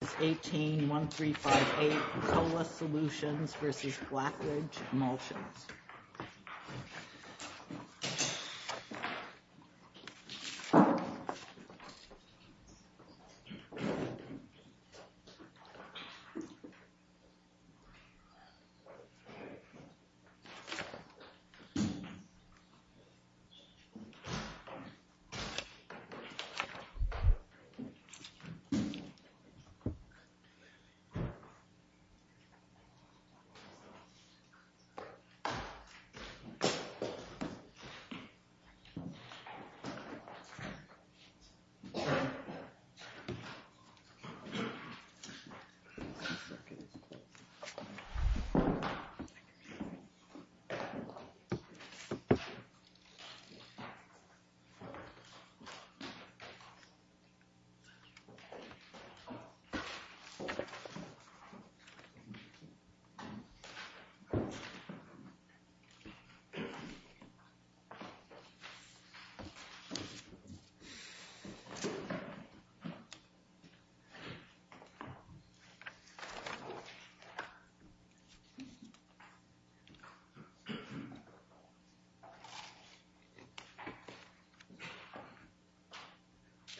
This is 18-1358 Colas Solutions v. Blacklidge Emulsions. Please see the complete disclaimer at https://sites.google.com Good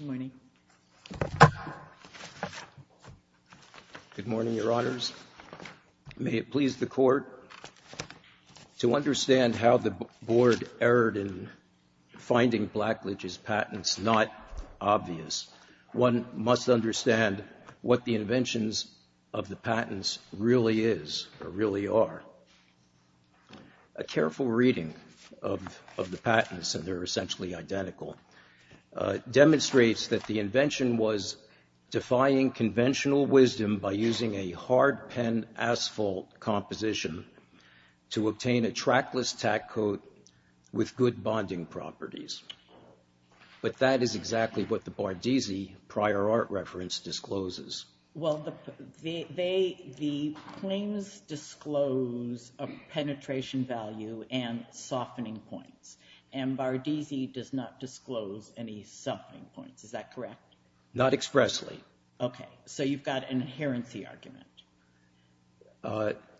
morning. Good morning, Your Honors. May it please the Court, to understand how the Board erred in finding Blacklidge's patents not obvious, one must understand what the inventions of the patents really is or really are. A careful reading of the patents, and they're essentially identical, demonstrates that the invention was defying conventional wisdom by using a hard pen asphalt composition to obtain a trackless tack coat with good bonding properties. But that is exactly what the Bardisi prior art reference discloses. Well, the claims disclose a penetration value and softening points, and Bardisi does not disclose any softening points, is that correct? Not expressly. Okay, so you've got an inherency argument.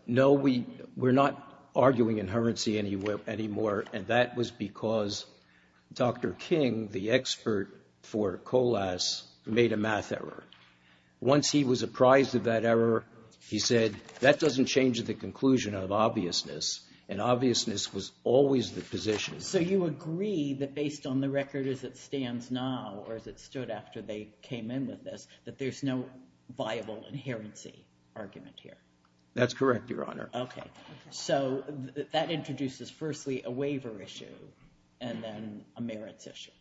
No, we're not arguing inherency anymore, and that was because Dr. King, the expert for Colas, made a math error. Once he was apprised of that error, he said, that doesn't change the conclusion of obviousness, and obviousness was always the position. So you agree that based on the record as it stands now, or as it stood after they came in with this, that there's no viable inherency argument here? That's correct, Your Honor. Okay, so that introduces firstly a waiver issue, and then a merits issue.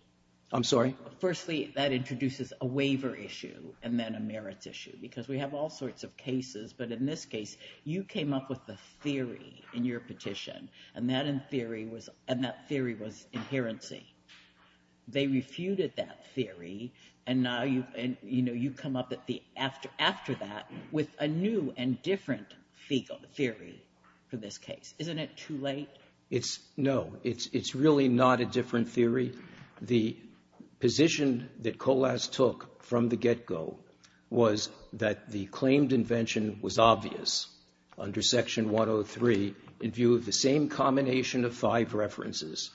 I'm sorry? Firstly, that introduces a waiver issue, and then a merits issue, because we have all sorts of cases, but in this case, you came up with the theory in your petition, and that theory was inherency. They refuted that theory, and now you come up after that with a new and different theory for this case. Isn't it too late? No, it's really not a different theory. The position that Colas took from the get-go was that the claimed invention was obvious under Section 103 in view of the same combination of five references,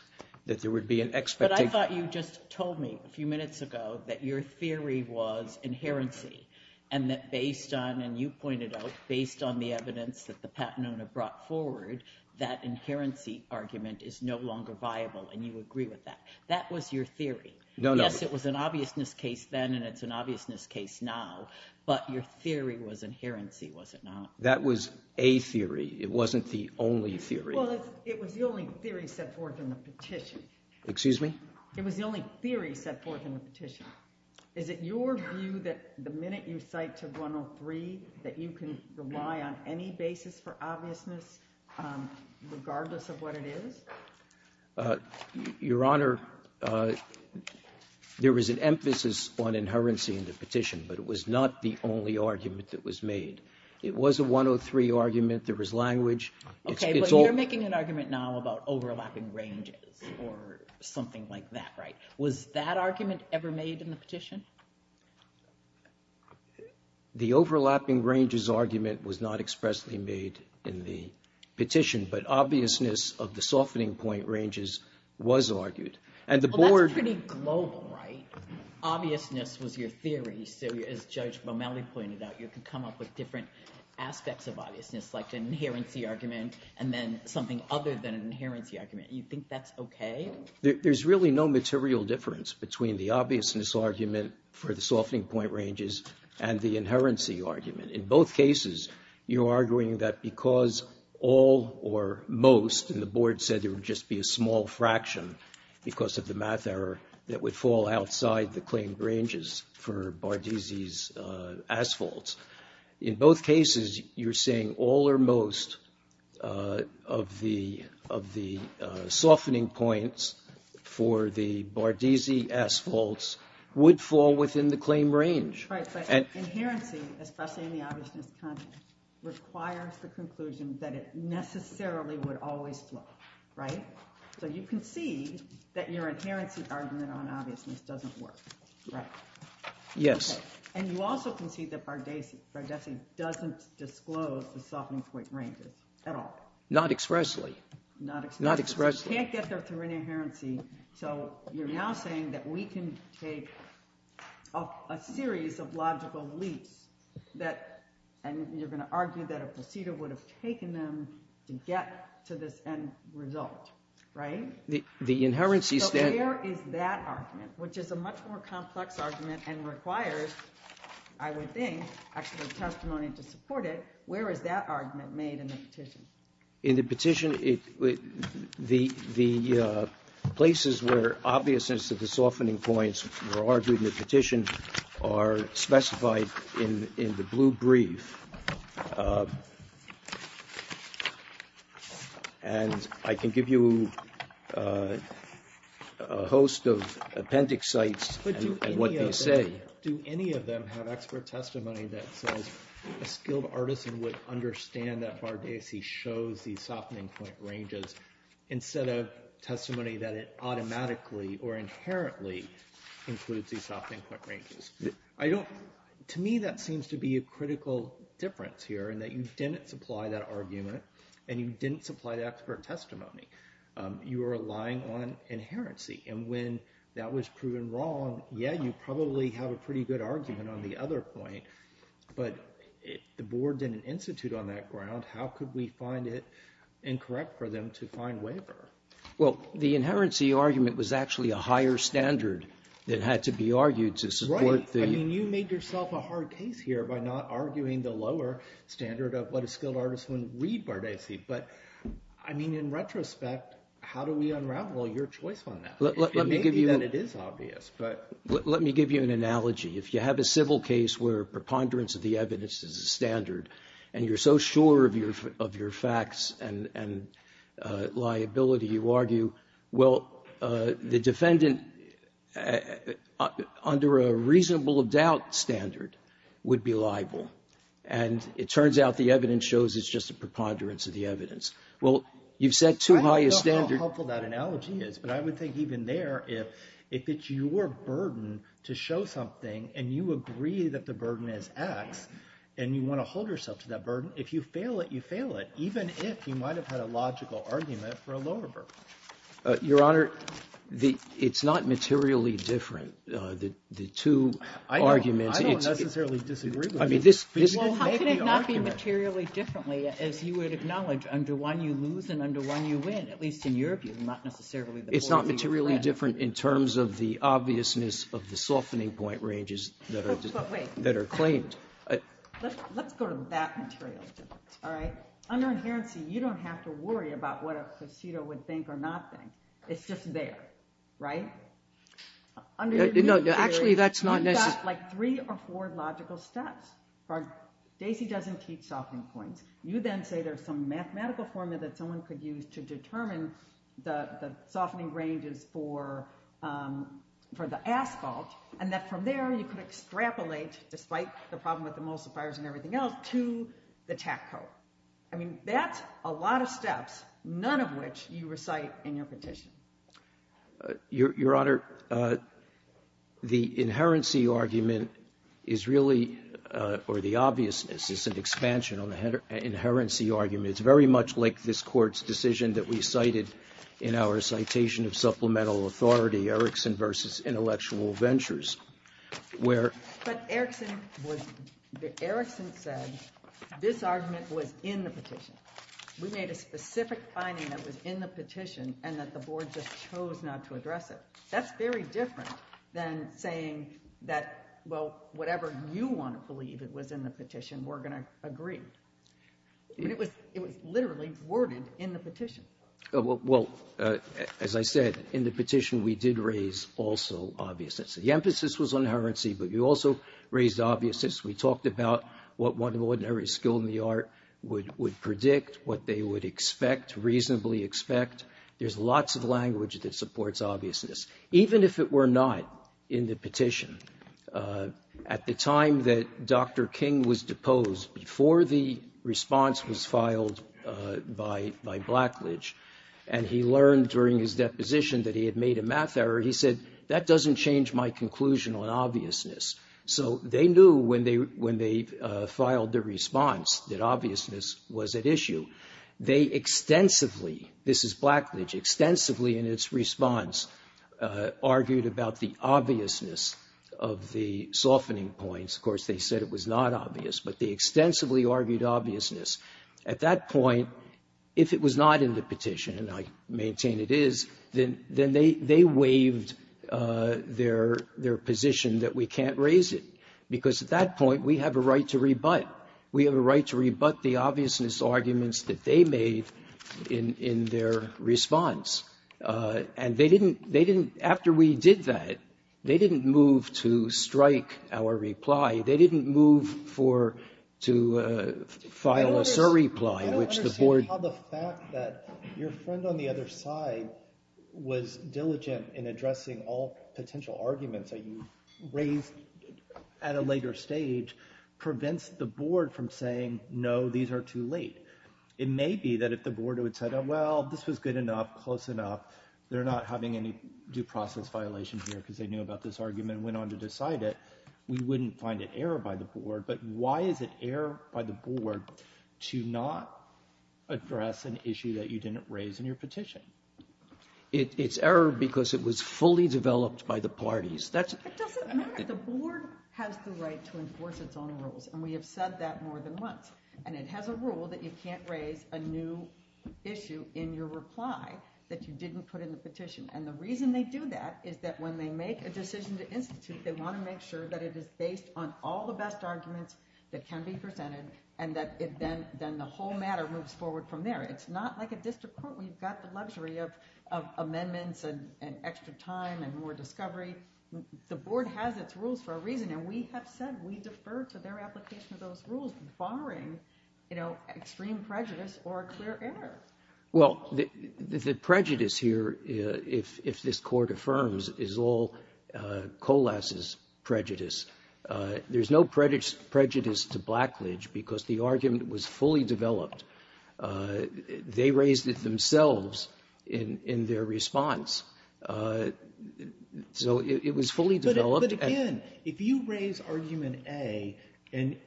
that there would be an expectation. But I thought you just told me a few minutes ago that your theory was inherency, and that based on, and you pointed out, based on the evidence that the Patenone have brought forward, that inherency argument is no longer viable, and you agree with that. That was your theory. No, no. Yes, it was an obviousness case then, and it's an obviousness case now, but your theory was inherency, was it not? That was a theory. It wasn't the only theory. Well, it was the only theory set forth in the petition. Excuse me? It was the only theory set forth in the petition. Is it your view that the minute you cite to 103 that you can rely on any basis for obviousness, regardless of what it is? Your Honor, there was an emphasis on inherency in the petition, but it was not the only argument that was made. It was a 103 argument. There was language. Okay, but you're making an argument now about overlapping ranges or something like that, right? Was that argument ever made in the petition? The overlapping ranges argument was not expressly made in the petition, but obviousness of the softening point ranges was argued. Well, that's pretty global, right? Obviousness was your theory, so as Judge Bomeli pointed out, you can come up with different aspects of obviousness, like an inherency argument and then something other than an inherency argument. You think that's okay? There's really no material difference between the obviousness argument for the softening point ranges and the inherency argument. In both cases, you're arguing that because all or most, and the Board said there would just be a small fraction because of the math error, that would fall outside the claimed ranges for Bardisi's asphalt. In both cases, you're saying all or most of the softening points for the Bardisi asphalts would fall within the claimed range. Right, but inherency, especially in the obviousness context, requires the conclusion that it necessarily would always flow, right? So you concede that your inherency argument on obviousness doesn't work, right? Yes. Okay, and you also concede that Bardisi doesn't disclose the softening point ranges at all. Not expressly. Not expressly. Not expressly. You can't get there through an inherency, so you're now saying that we can take a series of logical leaps that, and you're going to argue that a procedure would have taken them to get to this end result, right? So where is that argument, which is a much more complex argument and requires, I would think, extra testimony to support it, where is that argument made in the petition? In the petition, the places where obviousness of the softening points were argued in the petition are specified in the blue brief. And I can give you a host of appendix sites and what they say. But do any of them have expert testimony that says a skilled artisan would understand that Bardisi shows these softening point ranges instead of testimony that it automatically or inherently includes these softening point ranges? To me, that seems to be a critical difference here in that you didn't supply that argument and you didn't supply the expert testimony. You are relying on inherency. And when that was proven wrong, yeah, you probably have a pretty good argument on the other point, but if the board didn't institute on that ground, how could we find it incorrect for them to find waiver? Well, the inherency argument was actually a higher standard that had to be argued to support the... Right. I mean, you made yourself a hard case here by not arguing the lower standard of what a skilled artisan would read Bardisi. But, I mean, in retrospect, how do we unravel your choice on that? Let me give you... It may be that it is obvious, but... Let me give you an analogy. If you have a civil case where preponderance of the evidence is a standard and you're so sure of your facts and liability, you argue, well, the defendant under a reasonable doubt standard would be liable. And it turns out the evidence shows it's just a preponderance of the evidence. Well, you've set too high a standard... and you agree that the burden is X and you want to hold yourself to that burden. If you fail it, you fail it, even if you might have had a logical argument for a lower burden. Your Honor, it's not materially different. The two arguments... I don't necessarily disagree with you. Well, how could it not be materially differently, as you would acknowledge, under one you lose and under one you win, at least in your view, not necessarily the board you read. It's not materially different in terms of the obviousness of the softening point ranges that are claimed. Let's go to that material difference, all right? Under inherency, you don't have to worry about what a procedo would think or not think. It's just there, right? No, actually, that's not necessary. You've got like three or four logical steps. Daisy doesn't teach softening points. You then say there's some mathematical formula that someone could use to determine the softening ranges for the asphalt and that from there you could extrapolate, despite the problem with emulsifiers and everything else, to the TAC code. I mean, that's a lot of steps, none of which you recite in your petition. Your Honor, the inherency argument is really, or the obviousness is an expansion on the inherency argument. It's very much like this Court's decision that we cited in our citation of supplemental authority, Erickson v. Intellectual Ventures, where. But Erickson said this argument was in the petition. We made a specific finding that was in the petition and that the Board just chose not to address it. That's very different than saying that, well, whatever you want to believe it was in the petition, we're going to agree. It was literally worded in the petition. Well, as I said, in the petition we did raise also obviousness. The emphasis was on inherency, but you also raised obviousness. We talked about what one ordinary skill in the art would predict, what they would expect, reasonably expect. There's lots of language that supports obviousness. Even if it were not in the petition, at the time that Dr. King was deposed, before the response was filed by Blackledge, and he learned during his deposition that he had made a math error, he said, that doesn't change my conclusion on obviousness. So they knew when they filed their response that obviousness was at issue. They extensively, this is Blackledge, extensively in its response argued about the obviousness of the softening points. Of course, they said it was not obvious, but they extensively argued obviousness. At that point, if it was not in the petition, and I maintain it is, then they waived their position that we can't raise it, because at that point we have a right to rebut. We have a right to rebut the obviousness arguments that they made in their response. And they didn't, after we did that, they didn't move to strike our reply. They didn't move to file a surreply. I don't understand how the fact that your friend on the other side was diligent in addressing all potential arguments that you raised at a later stage prevents the board from saying, no, these are too late. It may be that if the board had said, well, this was good enough, close enough, they're not having any due process violation here because they knew about this argument and went on to decide it, we wouldn't find it error by the board. But why is it error by the board to not address an issue that you didn't raise in your petition? It's error because it was fully developed by the parties. It doesn't matter. The board has the right to enforce its own rules, and we have said that more than once. And it has a rule that you can't raise a new issue in your reply that you didn't put in the petition. And the reason they do that is that when they make a decision to institute, they want to make sure that it is based on all the best arguments that can be presented and that then the whole matter moves forward from there. It's not like a district court where you've got the luxury of amendments and extra time and more discovery. The board has its rules for a reason, and we have said we defer to their application of those rules, barring extreme prejudice or clear errors. Well, the prejudice here, if this court affirms, is all Colas's prejudice. There's no prejudice to Blackledge because the argument was fully developed. They raised it themselves in their response. So it was fully developed. But again, if you raise argument A and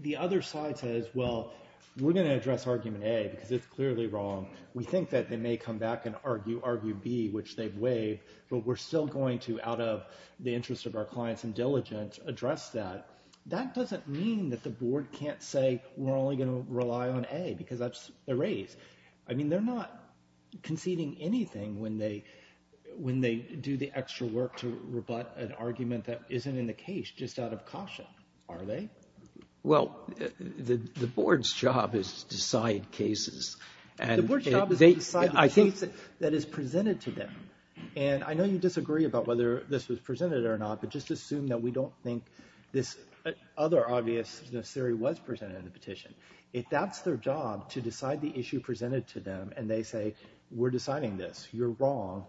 the other side says, well, we're going to address argument A because it's clearly wrong, we think that they may come back and argue argument B, which they've waived, but we're still going to, out of the interest of our clients and diligence, address that, that doesn't mean that the board can't say we're only going to rely on A because that's the raise. I mean, they're not conceding anything when they do the extra work to rebut an argument that isn't in the case just out of caution, are they? Well, the board's job is to decide cases. The board's job is to decide the case that is presented to them. And I know you disagree about whether this was presented or not, but just assume that we don't think this other obvious theory was presented in the petition. If that's their job, to decide the issue presented to them, and they say, we're deciding this, you're wrong,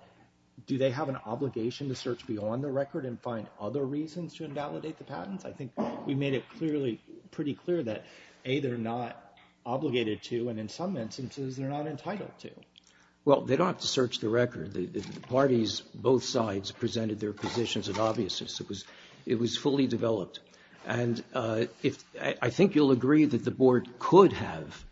do they have an obligation to search beyond the record and find other reasons to invalidate the patents? I think we made it pretty clear that A, they're not obligated to, and in some instances, they're not entitled to. Well, they don't have to search the record. The parties, both sides, presented their positions of obviousness. It was fully developed. And I think you'll agree that the board could have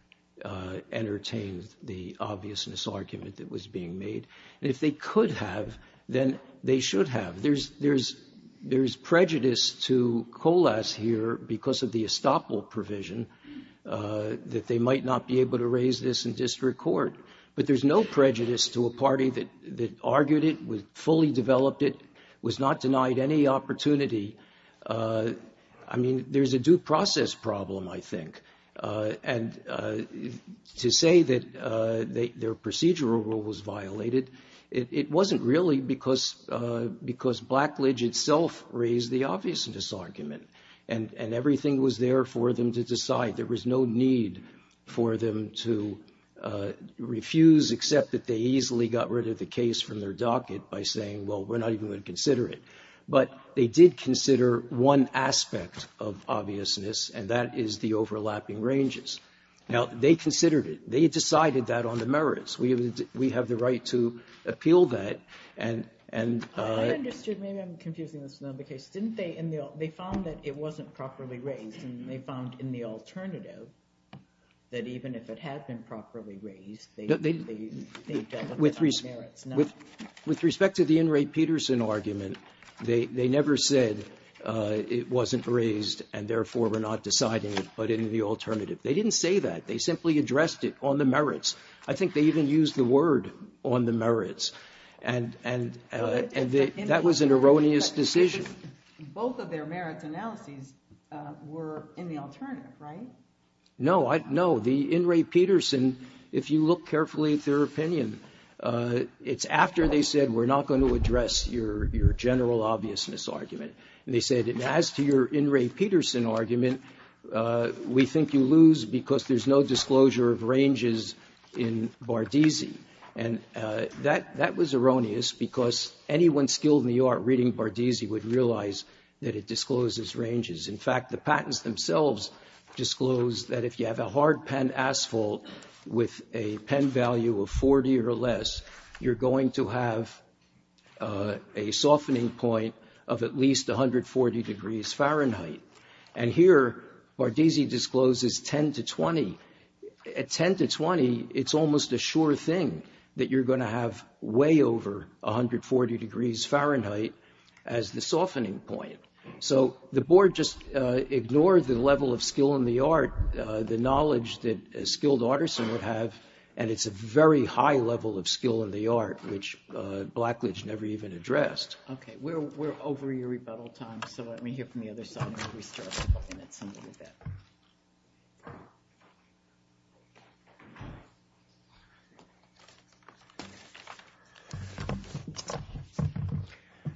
entertained the obviousness argument that was being made. And if they could have, then they should have. There's prejudice to COLAS here because of the estoppel provision that they might not be able to raise this in district court. But there's no prejudice to a party that argued it, fully developed it, was not denied any opportunity. I mean, there's a due process problem, I think. And to say that their procedural rule was violated, it wasn't really because Blackledge itself raised the obviousness argument. And everything was there for them to decide. There was no need for them to refuse, except that they easily got rid of the case from their docket by saying, well, we're not even going to consider it. But they did consider one aspect of obviousness, and that is the overlapping ranges. Now, they considered it. They decided that on the merits. We have the right to appeal that. And they found that it wasn't properly raised. And they found in the alternative that even if it had been properly raised, they dealt with it on the merits. With respect to the In re Pederson argument, they never said it wasn't raised, and therefore we're not deciding it, but in the alternative. They didn't say that. They simply addressed it on the merits. I think they even used the word on the merits. And that was an erroneous decision. Both of their merits analyses were in the alternative, right? No. The In re Pederson, if you look carefully at their opinion, it's after they said we're not going to address your general obviousness argument. And they said as to your In re Pederson argument, we think you lose because there's no disclosure of ranges in Bardisi. And that was erroneous because anyone skilled in the art reading Bardisi would realize that it discloses ranges. In fact, the patents themselves disclose that if you have a hard pen asphalt with a pen value of 40 or less, you're going to have a softening point of at least 140 degrees Fahrenheit. And here Bardisi discloses 10 to 20. At 10 to 20, it's almost a sure thing that you're going to have way over 140 degrees Fahrenheit as the softening point. So the board just ignored the level of skill in the art, the knowledge that a skilled artisan would have. And it's a very high level of skill in the art, which Blackledge never even addressed. OK, we're over your rebuttal time. So let me hear from the other side.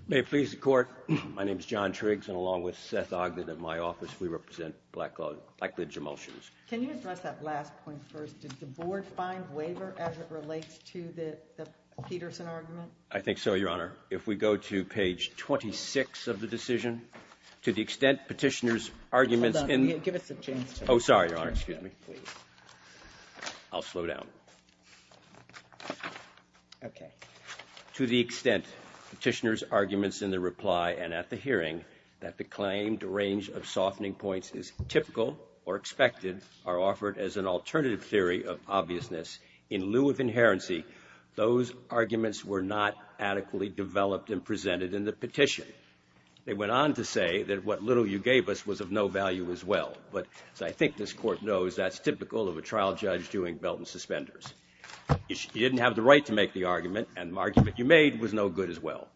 May it please the Court. My name is John Triggs and along with Seth Ogden in my office, we represent Blackledge Emulsions. Can you address that last point first? Did the board find waiver as it relates to the Pederson argument? I think so, Your Honor. Your Honor, if we go to page 26 of the decision, to the extent Petitioner's arguments in the – Hold on. Give us a chance to – Oh, sorry, Your Honor. Excuse me. I'll slow down. OK. To the extent Petitioner's arguments in the reply and at the hearing that the claimed range of softening points is typical or expected are offered as an alternative theory of obviousness in lieu of inherency, those arguments were not adequately developed and presented in the petition. They went on to say that what little you gave us was of no value as well. But as I think this Court knows, that's typical of a trial judge doing belt and suspenders. You didn't have the right to make the argument, and the argument you made was no good as well.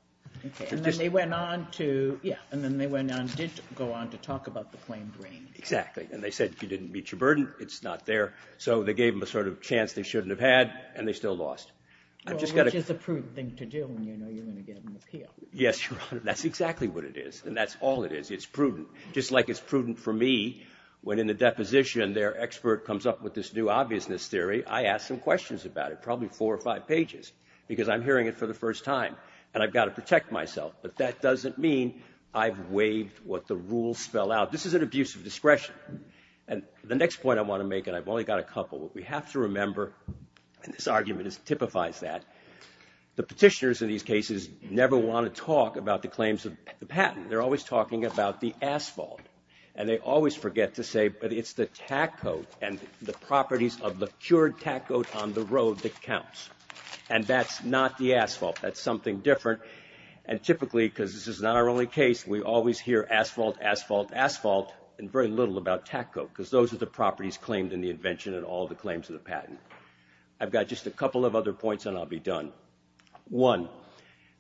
And then they went on to – yeah, and then they went on – did go on to talk about the claimed range. Exactly. And they said if you didn't meet your burden, it's not there. So they gave them a sort of chance they shouldn't have had, and they still lost. Well, which is a prudent thing to do when you know you're going to get an appeal. Yes, Your Honor. That's exactly what it is, and that's all it is. It's prudent. Just like it's prudent for me when in the deposition their expert comes up with this new obviousness theory, I ask some questions about it, probably four or five pages, because I'm hearing it for the first time, and I've got to protect myself. But that doesn't mean I've waived what the rules spell out. This is an abuse of discretion. And the next point I want to make, and I've only got a couple, what we have to remember – and this argument typifies that – the petitioners in these cases never want to talk about the claims of the patent. They're always talking about the asphalt. And they always forget to say it's the tack coat and the properties of the cured tack coat on the road that counts. And that's not the asphalt. That's something different. And typically, because this is not our only case, we always hear asphalt, asphalt, asphalt, and very little about tack coat, because those are the properties claimed in the invention and all the claims of the patent. I've got just a couple of other points, and I'll be done. One,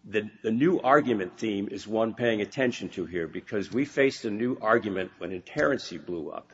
the new argument theme is one paying attention to here, because we faced a new argument when inherency blew up.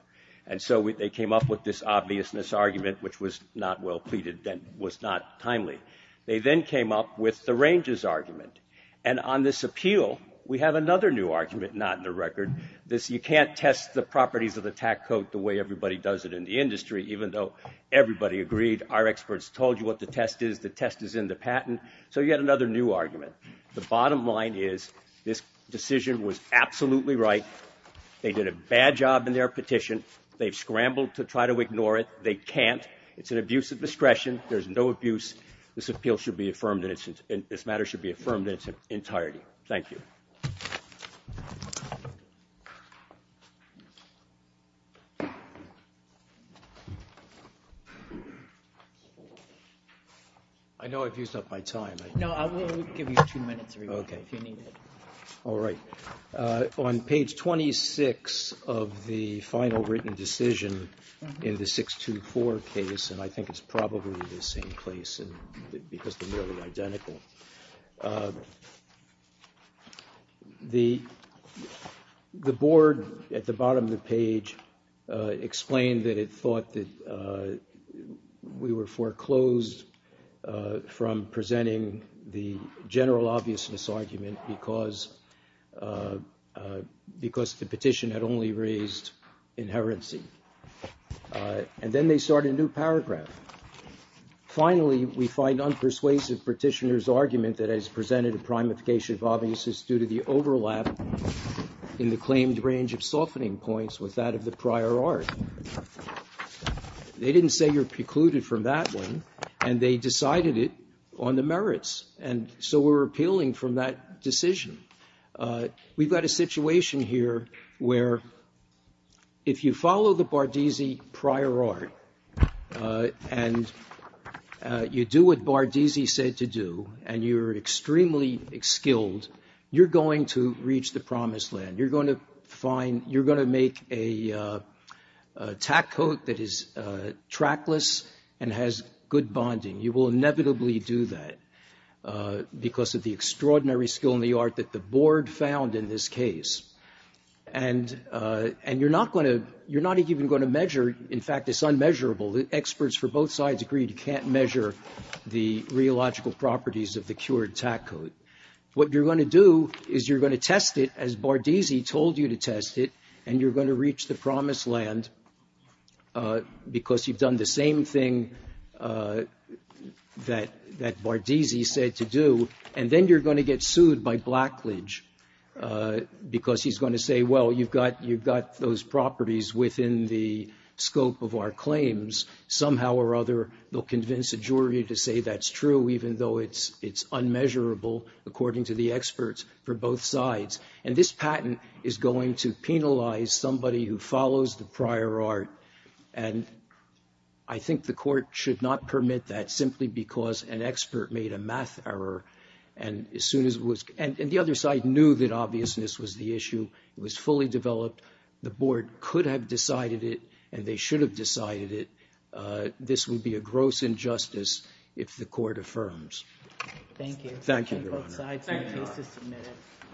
And so they came up with this obviousness argument, which was not well pleaded and was not timely. They then came up with the ranges argument. And on this appeal, we have another new argument not in the record. You can't test the properties of the tack coat the way everybody does it in the industry, even though everybody agreed, our experts told you what the test is, the test is in the patent. So you had another new argument. The bottom line is this decision was absolutely right. They did a bad job in their petition. They've scrambled to try to ignore it. They can't. It's an abuse of discretion. There's no abuse. This appeal should be affirmed and this matter should be affirmed in its entirety. Thank you. I know I've used up my time. No, I will give you two minutes if you need it. All right. On page 26 of the final written decision in the 6-2-4 case, and I think it's probably the same place because they're nearly identical. The board at the bottom of the page explained that it thought that we were foreclosed from presenting the general obviousness argument because the petition had only raised inherency. And then they start a new paragraph. Finally, we find unpersuasive petitioner's argument that has presented a primification of obviousness due to the overlap in the claimed range of softening points with that of the prior art. They didn't say you're precluded from that one. And they decided it on the merits. And so we're appealing from that decision. We've got a situation here where if you follow the Bardisi prior art and you do what Bardisi said to do and you're extremely skilled, you're going to reach the promised land. You're going to make a tack coat that is trackless and has good bonding. You will inevitably do that because of the extraordinary skill in the art that the board found in this case. And you're not even going to measure. In fact, it's unmeasurable. The experts for both sides agreed you can't measure the rheological properties of the cured tack coat. What you're going to do is you're going to test it as Bardisi told you to test it, and you're going to reach the promised land because you've done the same thing that Bardisi said to do. And then you're going to get sued by Blackledge because he's going to say, well, you've got those properties within the scope of our claims. Somehow or other, they'll convince a jury to say that's true, even though it's unmeasurable, according to the experts for both sides. And this patent is going to penalize somebody who follows the prior art. And I think the court should not permit that simply because an expert made a math error. And the other side knew that obviousness was the issue. It was fully developed. The board could have decided it, and they should have decided it. This would be a gross injustice if the court affirms. Thank you. Thank you, Your Honor.